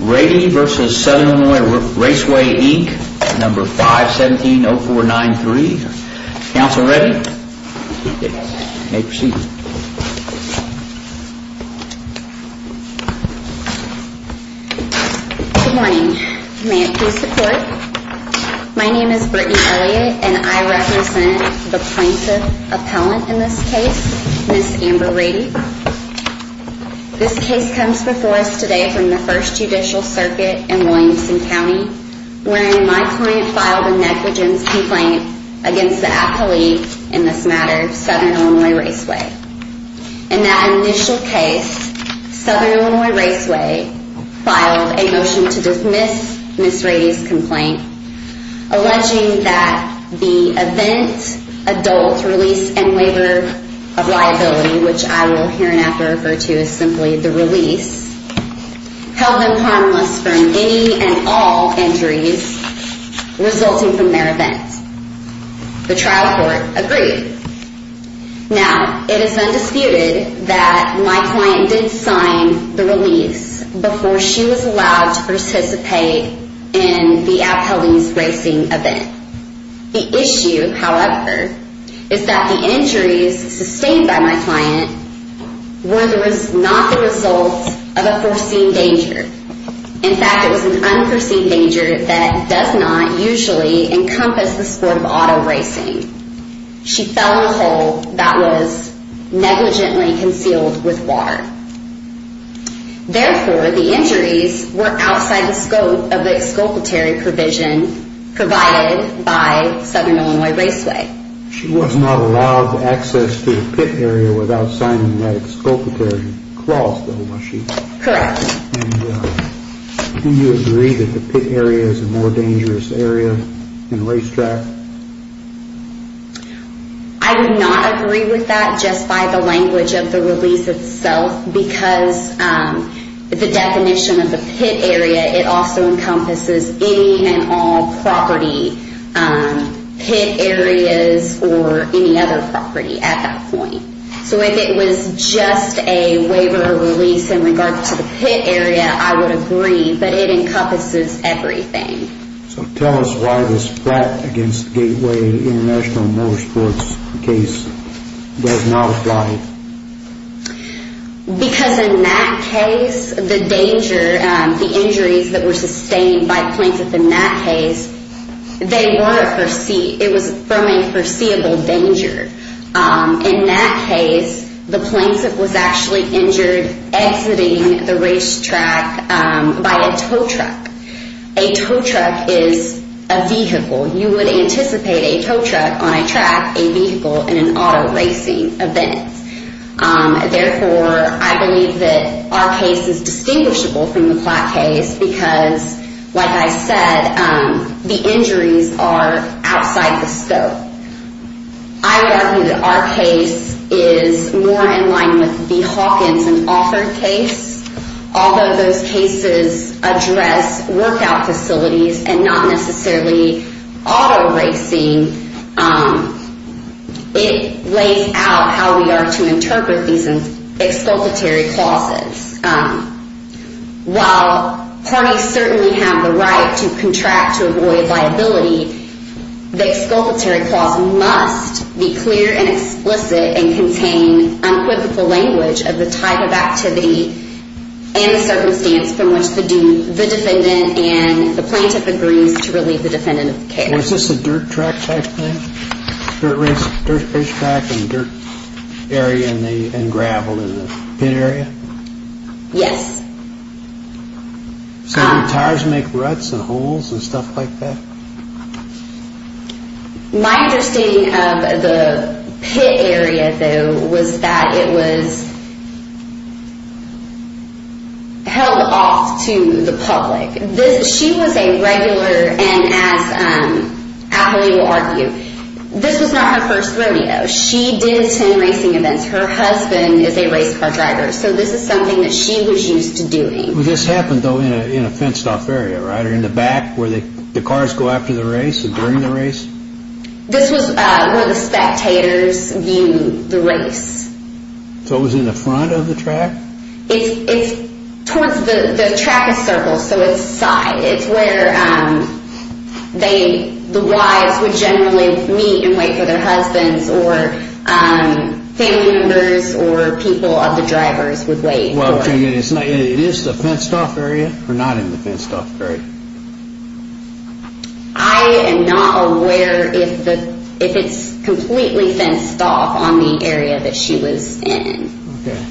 Rady v. Southern Illinois Raceway, Inc. No. 517-0493. Counsel Rady, you may proceed. Good morning. May it please the Court. My name is Brittany Elliott and I represent the plaintiff appellant in this case, Ms. Amber Rady. This case comes before us today from the First Judicial Circuit in Williamson County, wherein my client filed a negligence complaint against the appellee in this matter, Southern Illinois Raceway. In that initial case, Southern Illinois Raceway filed a motion to dismiss Ms. Rady's complaint, alleging that the event, adult, release, and waiver of liability, which I will hereinafter refer to as simply the release, held them harmless from any and all injuries resulting from their event. The trial court agreed. Now, it is undisputed that my client did sign the release before she was allowed to participate in the appellee's racing event. The issue, however, is that the injuries sustained by my client were not the result of a foreseen danger. In fact, it was an unforeseen danger that does not usually encompass the sport of auto racing. She fell in a hole that was negligently concealed with water. Therefore, the injuries were outside the scope of the exculpatory provision provided by Southern Illinois Raceway. She was not allowed access to the pit area without signing that exculpatory clause, though, was she? Correct. Do you agree that the pit area is a more dangerous area in a racetrack? I would not agree with that just by the language of the release itself, because the definition of the pit area, it also encompasses any and all property, pit areas, or any other property at that point. So, if it was just a waiver of release in regards to the pit area, I would agree, but it encompasses everything. So, tell us why this threat against Gateway International Motorsports case does not apply. Because in that case, the danger, the injuries that were sustained by plaintiff in that case, it was from a foreseeable danger. In that case, the plaintiff was actually injured exiting the racetrack by a tow truck. A tow truck is a vehicle. You would anticipate a tow truck on a track, a vehicle, in an auto racing event. Therefore, I believe that our case is distinguishable from the Platt case because, like I said, the injuries are outside the scope. I would argue that our case is more in line with the Hawkins and Author case. Although those cases address workout facilities and not necessarily auto racing, it lays out how we are to interpret these exculpatory clauses. While parties certainly have the right to contract to avoid liability, the exculpatory clause must be clear and explicit and contain unquivocal language of the type of activity and the circumstance from which the defendant and the plaintiff agrees to relieve the defendant of the case. Was this a dirt track type thing? Dirt racetrack and dirt area and gravel in the pit area? Yes. So did tires make ruts and holes and stuff like that? My understanding of the pit area, though, was that it was held off to the public. She was a regular and, as Ali will argue, this was not her first rodeo. She did 10 racing events. Her husband is a race car driver, so this is something that she was used to doing. Well, this happened, though, in a fenced-off area, right, or in the back where the cars go after the race or during the race? This was where the spectators viewed the race. So it was in the front of the track? It's towards the track of circles, so it's side. It's where the wives would generally meet and wait for their husbands or family members or people of the drivers would wait. It is the fenced-off area or not in the fenced-off area? I am not aware if it's completely fenced off on the area that she was in. Okay.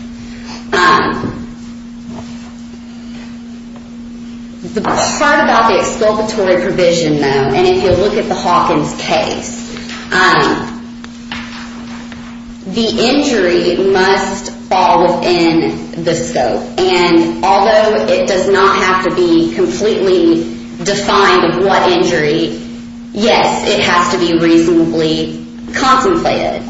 The part about the exculpatory provision, though, and if you look at the Hawkins case, the injury must fall within the scope, and although it does not have to be completely defined of what injury, yes, it has to be reasonably contemplated.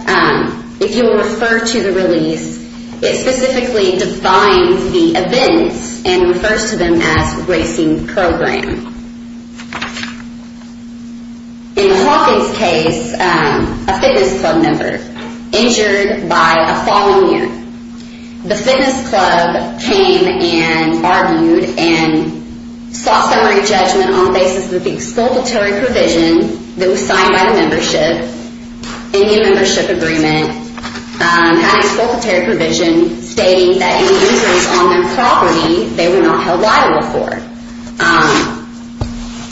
If you will refer to the release, it specifically defines the events and refers to them as racing program. In the Hawkins case, a fitness club member injured by a falling mirror. The fitness club came and argued and sought summary judgment on the basis of the exculpatory provision that was signed by the membership in the membership agreement, had an exculpatory provision stating that any injuries on their property they were not held liable for.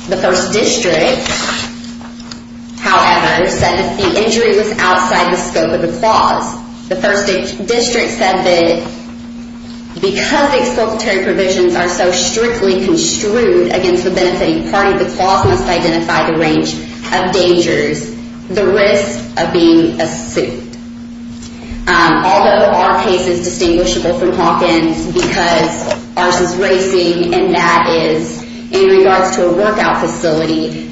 The first district, however, said that the injury was outside the scope of the clause. The first district said that because the exculpatory provisions are so strictly construed against the benefiting party, the clause must identify the range of dangers, the risk of being a suit. Although our case is distinguishable from Hawkins because ours is racing and that is in regards to a workout facility,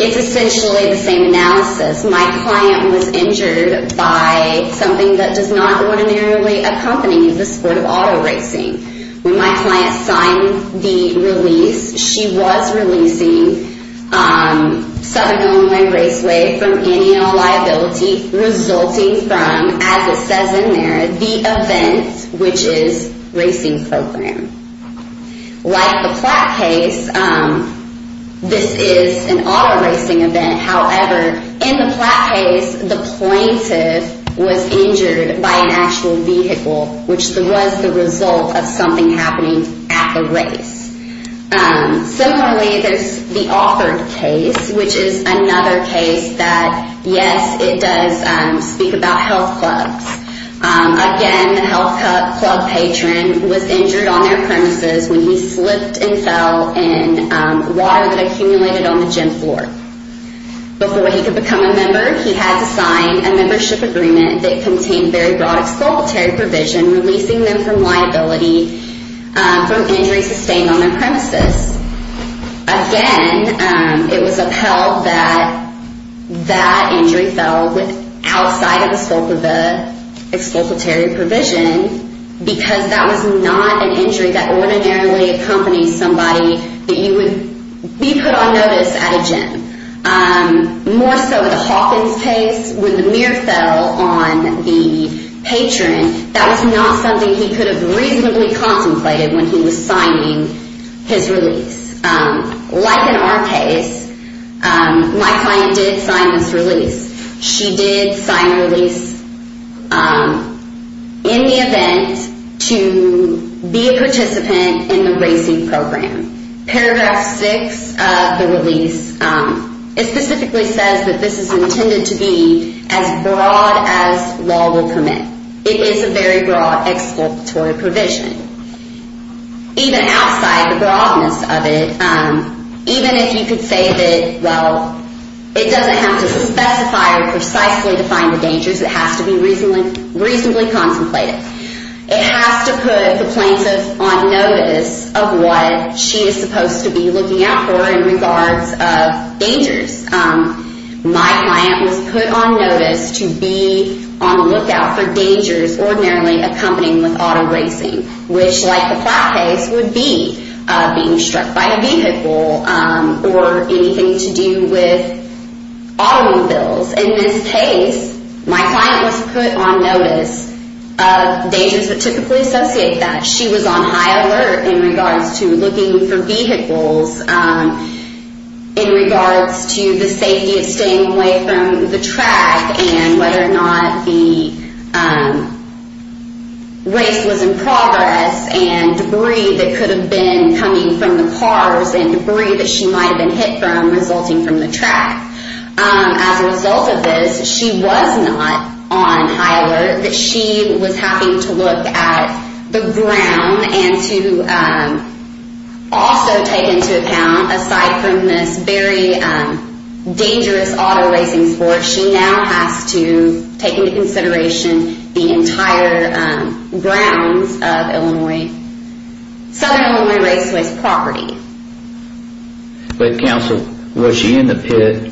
it's essentially the same analysis. My client was injured by something that does not ordinarily accompany the sport of auto racing. When my client signed the release, she was releasing 7-gallon raceway from any and all liability resulting from, as it says in there, the event which is racing program. Like the Platt case, this is an auto racing event, however, in the Platt case, the plaintiff was injured by an actual vehicle, which was the result of something happening at the race. Similarly, there's the Offord case, which is another case that, yes, it does speak about health clubs. Again, the health club patron was injured on their premises when he slipped and fell in water that accumulated on the gym floor. Before he could become a member, he had to sign a membership agreement that contained very broad expulsory provision, releasing them from liability for injuries sustained on their premises. Again, it was upheld that that injury fell outside of the scope of the expulsory provision because that was not an injury that ordinarily accompanies somebody that you would be put on notice at a gym. More so in the Hawkins case, when the mirror fell on the patron, that was not something he could have reasonably contemplated when he was signing his release. Like in our case, my client did sign this release. She did sign a release in the event to be a participant in the racing program. Paragraph 6 of the release, it specifically says that this is intended to be as broad as law will permit. It is a very broad expulsory provision. Even outside the broadness of it, even if you could say that, well, it doesn't have to specify or precisely define the dangers, it has to be reasonably contemplated. It has to put the plaintiff on notice of what she is supposed to be looking out for in regards of dangers. My client was put on notice to be on the lookout for dangers ordinarily accompanying with auto racing. Which, like the Platt case, would be being struck by a vehicle or anything to do with automobiles. In this case, my client was put on notice of dangers that typically associate that. She was on high alert in regards to looking for vehicles, in regards to the safety of staying away from the track, and whether or not the race was in progress, and debris that could have been coming from the cars and debris that she might have been hit from resulting from the track. As a result of this, she was not on high alert. She was having to look at the ground and to also take into account, aside from this very dangerous auto racing sport, she now has to take into consideration the entire grounds of Southern Illinois Raceways property. But counsel, was she in the pit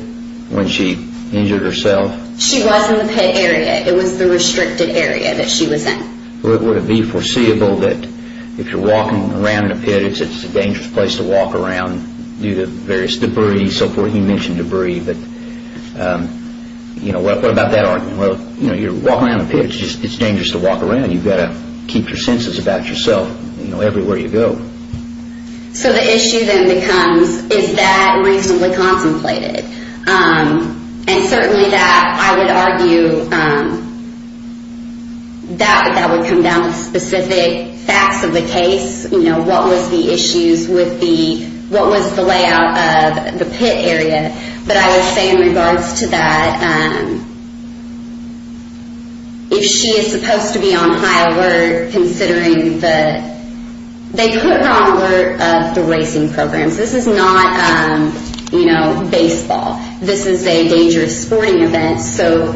when she injured herself? She was in the pit area. It was the restricted area that she was in. Would it be foreseeable that if you're walking around in a pit, it's a dangerous place to walk around due to various debris and so forth? You mentioned debris, but what about that argument? You're walking around in a pit, it's dangerous to walk around. You've got to keep your senses about yourself everywhere you go. So the issue then becomes, is that reasonably contemplated? And certainly that, I would argue, that would come down to specific facts of the case. What was the layout of the pit area? But I would say in regards to that, if she is supposed to be on high alert, they put her on alert of the racing programs. This is not baseball. This is a dangerous sporting event. So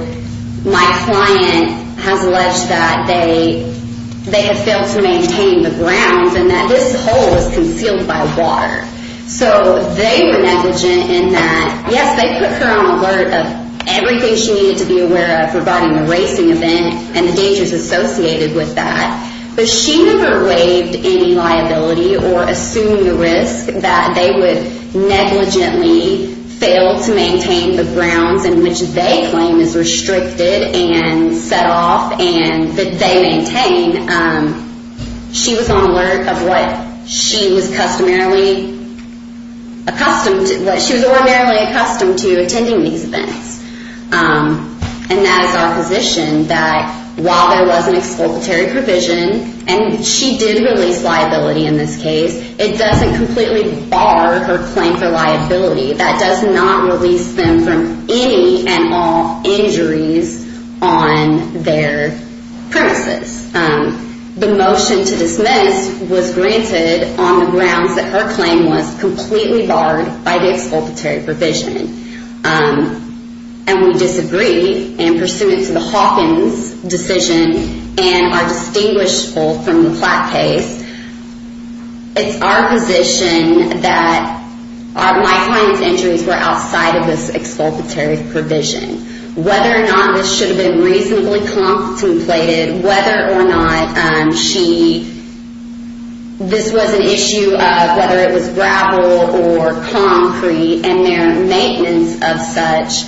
my client has alleged that they have failed to maintain the grounds and that this hole is concealed by water. So they were negligent in that, yes, they put her on alert of everything she needed to be aware of regarding the racing event and the dangers associated with that. But she never waived any liability or assumed the risk that they would negligently fail to maintain the grounds in which they claim is restricted and set off and that they maintain. She was on alert of what she was customarily accustomed to. She was ordinarily accustomed to attending these events. And that is our position that while there was an expulsory provision, and she did release liability in this case, it doesn't completely bar her claim for liability. That does not release them from any and all injuries on their premises. The motion to dismiss was granted on the grounds that her claim was completely barred by the expulsory provision. And we disagree. And pursuant to the Hawkins decision and our distinguishable from the Platt case, it's our position that my client's injuries were outside of this expulsory provision. Whether or not this should have been reasonably contemplated, whether or not this was an issue of whether it was gravel or concrete and their maintenance of such,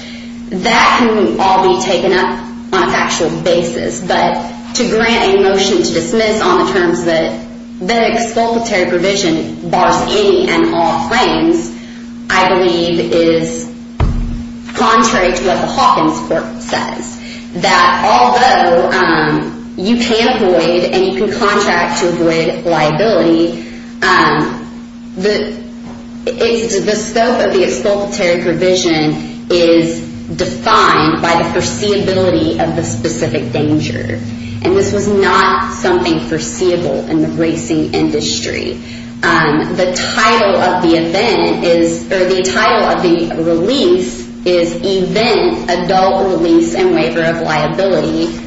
that can all be taken up on a factual basis. But to grant a motion to dismiss on the terms that the expulsory provision bars any and all claims, I believe is contrary to what the Hawkins court says. That although you can avoid and you can contract to avoid liability, the scope of the expulsory provision is defined by the foreseeability of the specific danger. And this was not something foreseeable in the racing industry. The title of the release is Event, Adult Release and Waiver of Liability.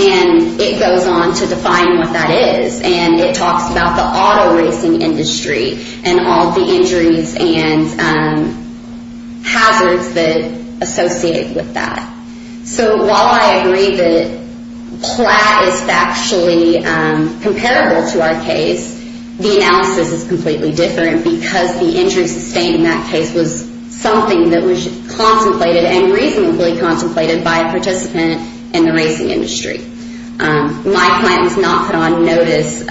And it goes on to define what that is. And it talks about the auto racing industry and all the injuries and hazards that are associated with that. So while I agree that Platt is factually comparable to our case, the analysis is completely different because the injuries sustained in that case was something that was contemplated and reasonably contemplated by a participant in the racing industry. My client was not put on notice of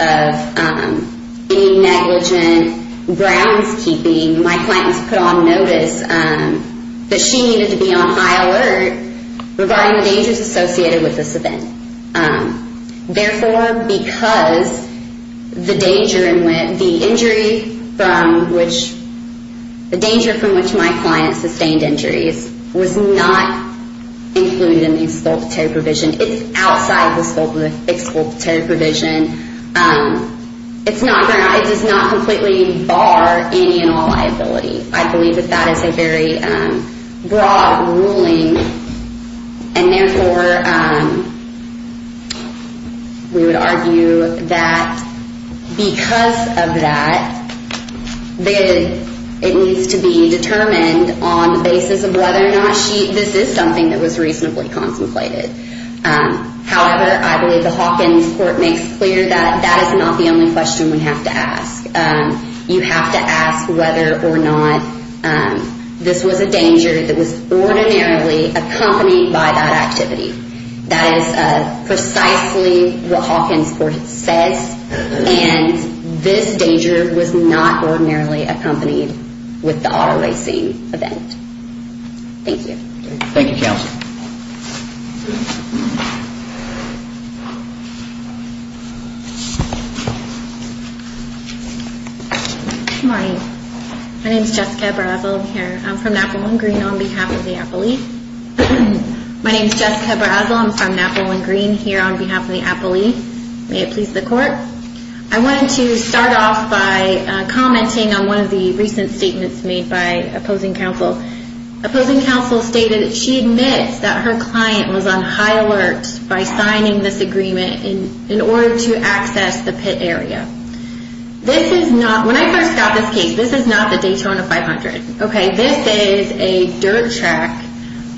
any negligent grounds keeping. My client was put on notice that she needed to be on high alert regarding the dangers associated with this event. Therefore, because the danger from which my client sustained injuries was not included in the expulsory provision, it's outside the scope of the expulsory provision, it does not completely bar any and all liability. I believe that that is a very broad ruling. And therefore, we would argue that because of that, it needs to be determined on the basis of whether or not this is something that was reasonably contemplated. However, I believe the Hawkins Court makes clear that that is not the only question we have to ask. You have to ask whether or not this was a danger that was ordinarily accompanied by that activity. That is precisely what Hawkins Court says, and this danger was not ordinarily accompanied with the auto racing event. Thank you. Good morning. My name is Jessica Barazil. I'm from Napaleon Green on behalf of the Appellee. My name is Jessica Barazil. I'm from Napaleon Green here on behalf of the Appellee. May it please the Court. I wanted to start off by commenting on one of the recent statements made by opposing counsel. Opposing counsel stated that she admits that her client was on high alert by signing this agreement in order to access the pit area. This is not, when I first got this case, this is not the Daytona 500. This is a dirt track,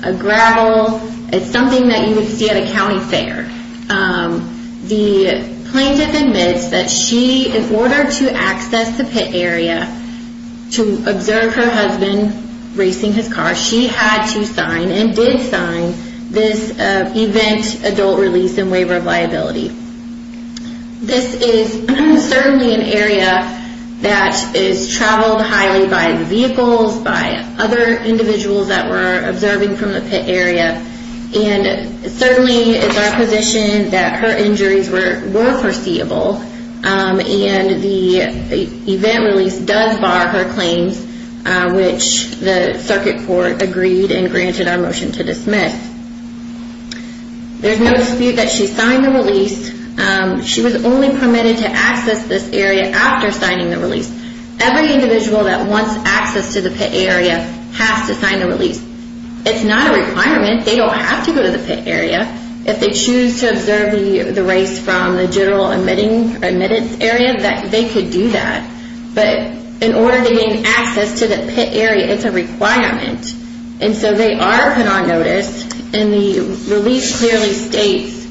a gravel, it's something that you would see at a county fair. The plaintiff admits that she, in order to access the pit area, to observe her husband racing his car, she had to sign and did sign this event adult release and waiver of liability. This is certainly an area that is traveled highly by vehicles, by other individuals that were observing from the pit area, and certainly it's our position that her injuries were foreseeable and the event release does bar her claims, which the circuit court agreed and granted our motion to dismiss. There's no dispute that she signed the release. She was only permitted to access this area after signing the release. Every individual that wants access to the pit area has to sign the release. It's not a requirement. They don't have to go to the pit area. If they choose to observe the race from the general admitted area, they could do that. But in order to gain access to the pit area, it's a requirement. They are put on notice and the release clearly states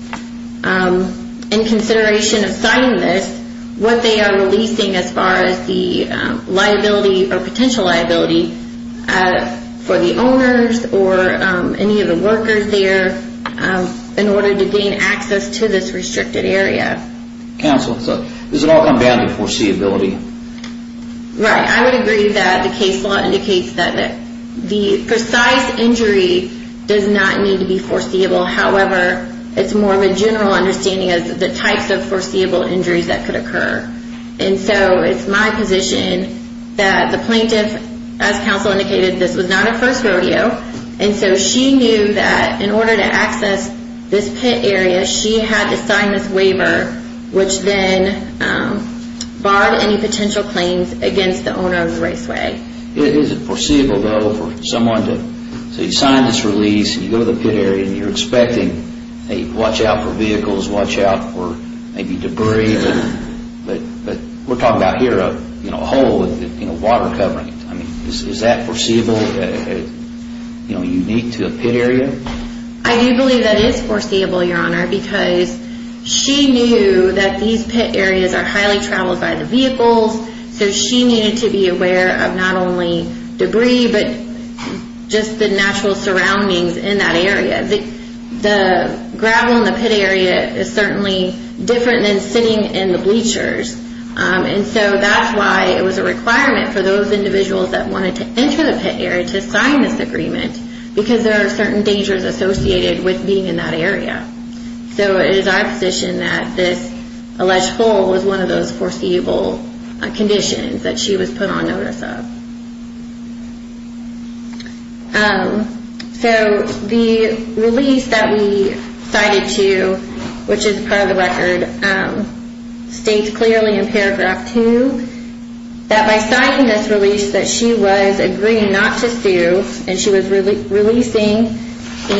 in consideration of signing this, what they are releasing as far as the liability or potential liability for the owners or any of the workers there in order to gain access to this restricted area. Does it all come down to foreseeability? I would agree that the case law indicates that the precise injury does not need to be foreseeable. However, it's more of a general understanding of the types of foreseeable injuries that could occur. It's my position that the plaintiff, as counsel indicated, this was not a first rodeo. She knew that in order to access this pit area, she had to sign this waiver which then barred any potential claims against the owner of the raceway. Is it foreseeable for someone to sign this release and go to the pit area and you are expecting to watch out for vehicles and debris? We are talking about here a hole with water covering it. Is that foreseeable and unique to a pit area? I do believe that it is foreseeable, Your Honor, because she knew that these pit areas are highly traveled by the vehicles. So she needed to be aware of not only debris, but just the natural surroundings in that area. The gravel in the pit area is certainly different than sitting in the bleachers. That's why it was a requirement for those individuals that wanted to enter the pit area to sign this agreement because there are certain dangers associated with being in that area. It is our position that this alleged hole was one of those foreseeable conditions that she was put on notice of. So the release that we cited to you, which is part of the record states clearly in paragraph 2 that by citing this release that she was agreeing not to sue and she was releasing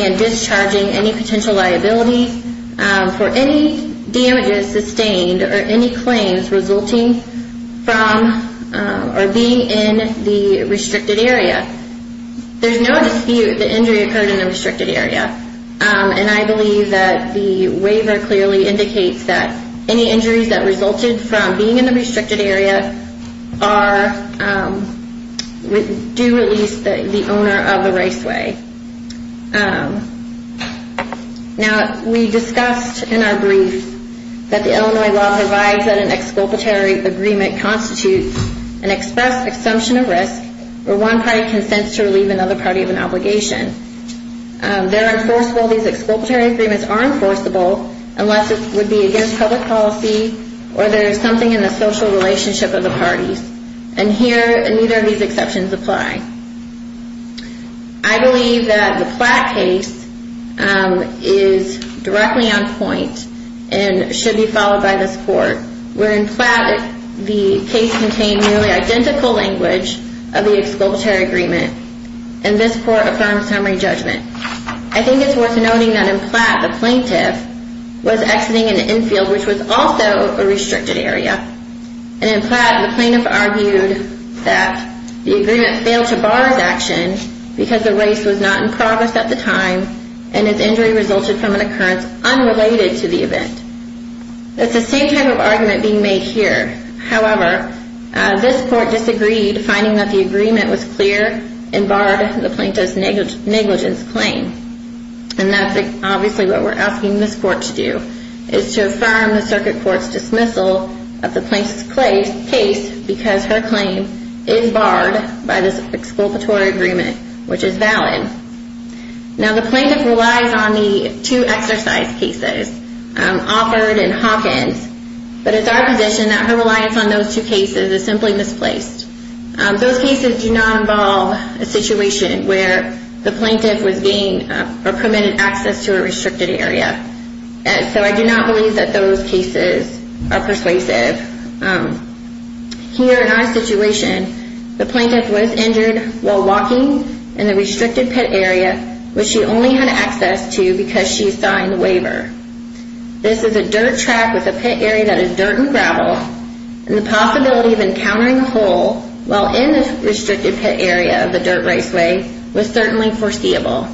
and discharging any potential liability for any damages sustained or any claims resulting from or being in the restricted area. There is no dispute that the injury occurred in the restricted area. I believe that the waiver clearly indicates that any injuries that resulted from being in the restricted area do release the owner of the raceway. Now we discussed in our brief that the Illinois law provides that an exculpatory agreement constitutes an express assumption of risk where one party consents to relieve another party of an obligation. These exculpatory agreements are enforceable unless it would be against public policy or there is something in the social relationship of the parties. And here neither of these exceptions apply. I believe that the Platt case is directly on point and should be followed by this court. Where in Platt the case contained nearly identical language of the exculpatory agreement and this court affirmed summary judgment. I think it's worth noting that in Platt the plaintiff was exiting an infield which was also a restricted area and in Platt the plaintiff argued that the agreement failed to bar his action because the race was not in progress at the time and his injury resulted from an occurrence unrelated to the event. It's the same type of argument being made here. However, this court disagreed finding that the agreement was clear and barred the plaintiff's negligence claim. And that's obviously what we're asking this court to do is to affirm the circuit court's dismissal of the plaintiff's case because her claim is barred by this exculpatory agreement which is valid. Now the plaintiff relies on the two exercise cases Offord and Hawkins but it's our position that her reliance on those two cases is simply misplaced. Those cases do not involve a situation where the plaintiff was gained or permitted access to a restricted area. So I do not believe that those cases are persuasive. Here in our situation the plaintiff was injured while walking in the restricted pit area which she only had access to because she signed the waiver. This is a dirt track with a pit area that is dirt and gravel and the possibility of encountering a hole while in the restricted pit area of the dirt raceway was certainly foreseeable.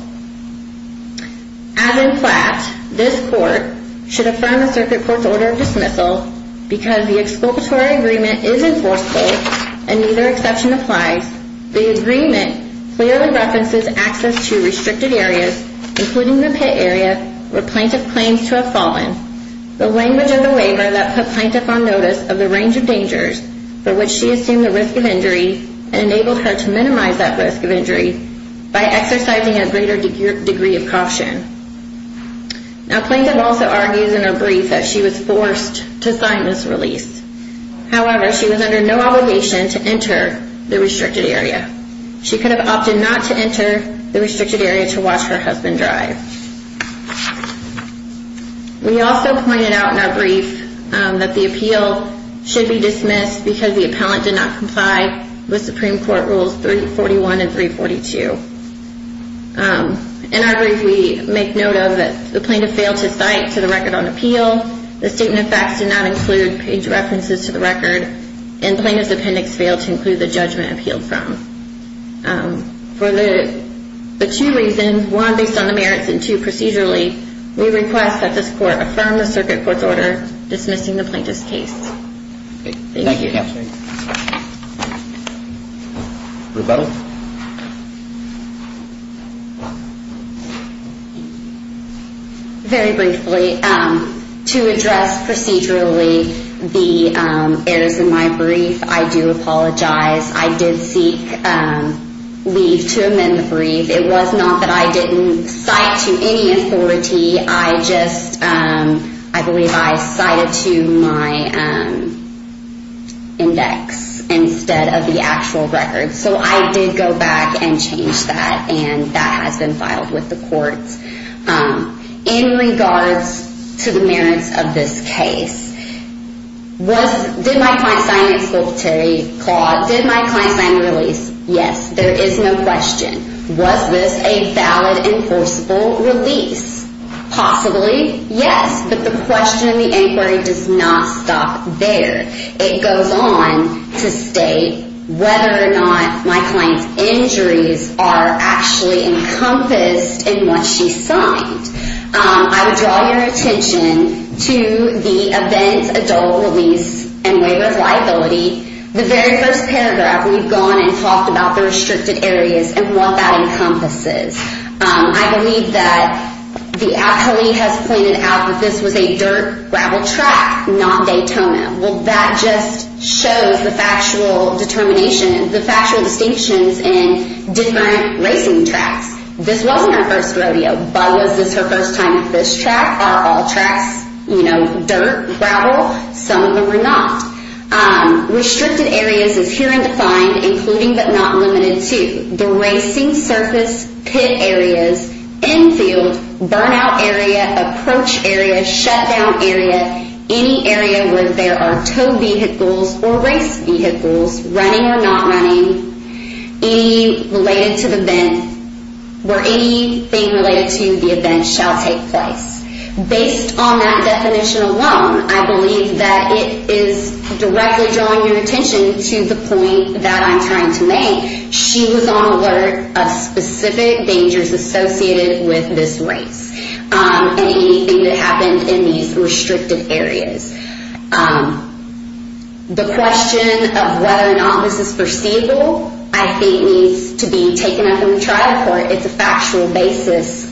As in Platt, this court should affirm the circuit court's order of dismissal because the exculpatory agreement is enforceable and neither exception applies. The agreement clearly references access to restricted areas including the pit area where plaintiff claims to have fallen. The language of the waiver that put plaintiff on notice of the range of dangers for which she assumed the risk of injury and enabled her to minimize that risk of injury by exercising a greater degree of caution. Now plaintiff also argues in her brief that she was forced to sign this release. However, she was under no obligation to enter the restricted area. She could have opted not to enter the restricted area to watch her husband drive. We also pointed out in our brief that the appeal should be dismissed because the appellant did not comply with Supreme Court Rules 341 and 342. In our brief we make note of that the plaintiff failed to cite to the record on appeal, the statement of facts did not include page references to the record, and plaintiff's appendix failed to include the judgment appealed from. For the two reasons, one based on the merits and two procedurally, we request that this court affirm the circuit court's order dismissing the plaintiff's case. Thank you. Very briefly, to address procedurally the errors in my brief, I do apologize. I did seek leave to amend the brief. It was not that I didn't cite to any authority, I just, I believe I cited to my index instead of the actual record. So I did go back and change that and that has been filed with the courts. In regards to the merits of this case, did my client sign an exculpatory clause? Did my client sign a release? Yes, there is no question. Was this a valid enforceable release? Possibly, yes, but the question in the inquiry does not stop there. It goes on to state whether or not my client's injuries are actually encompassed in what she signed. I would draw your attention to the event adult release and waiver of liability. The very first paragraph, we've gone and talked about the restricted areas and what that encompasses. I believe that the appellee has pointed out that this was a dirt gravel track, not Daytona. Well, that just shows the factual determination, the factual distinctions in different racing tracks. This wasn't her first rodeo, but was this her first time at this track? Are all tracks, you know, dirt, gravel? Some of them are not. Restricted areas is clear and defined, including but not limited to the racing surface pit areas, infield, burnout area, approach area, shutdown area, any area where there are tow vehicles or race vehicles running or not running, any related to the event, where anything related to the event shall take place. Based on that definition alone, I believe that it is directly drawing your attention to the point that I'm trying to make. She was on alert of specific dangers associated with this race and anything that happened in these restricted areas. The question of whether or not this is foreseeable, I think needs to be taken up in the trial court. It's a factual basis.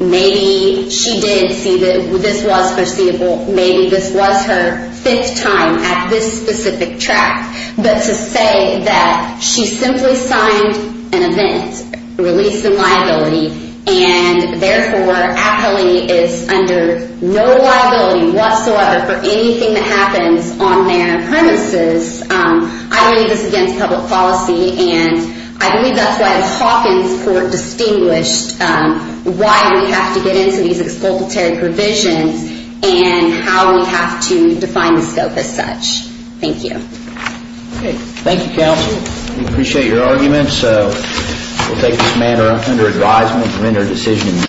Maybe she did see that this was foreseeable. Maybe this was her fifth time at this specific track. But to say that she simply signed an event, released in liability, and therefore appellee is under no liability whatsoever for anything that happens on their premises, I believe this is against public policy. And I believe that's why the Hawkins court distinguished why we have to get into these expulsory provisions and how we have to define the scope as such. Thank you. Thank you, counsel. We appreciate your arguments. We'll take this matter under advisement and render a decision.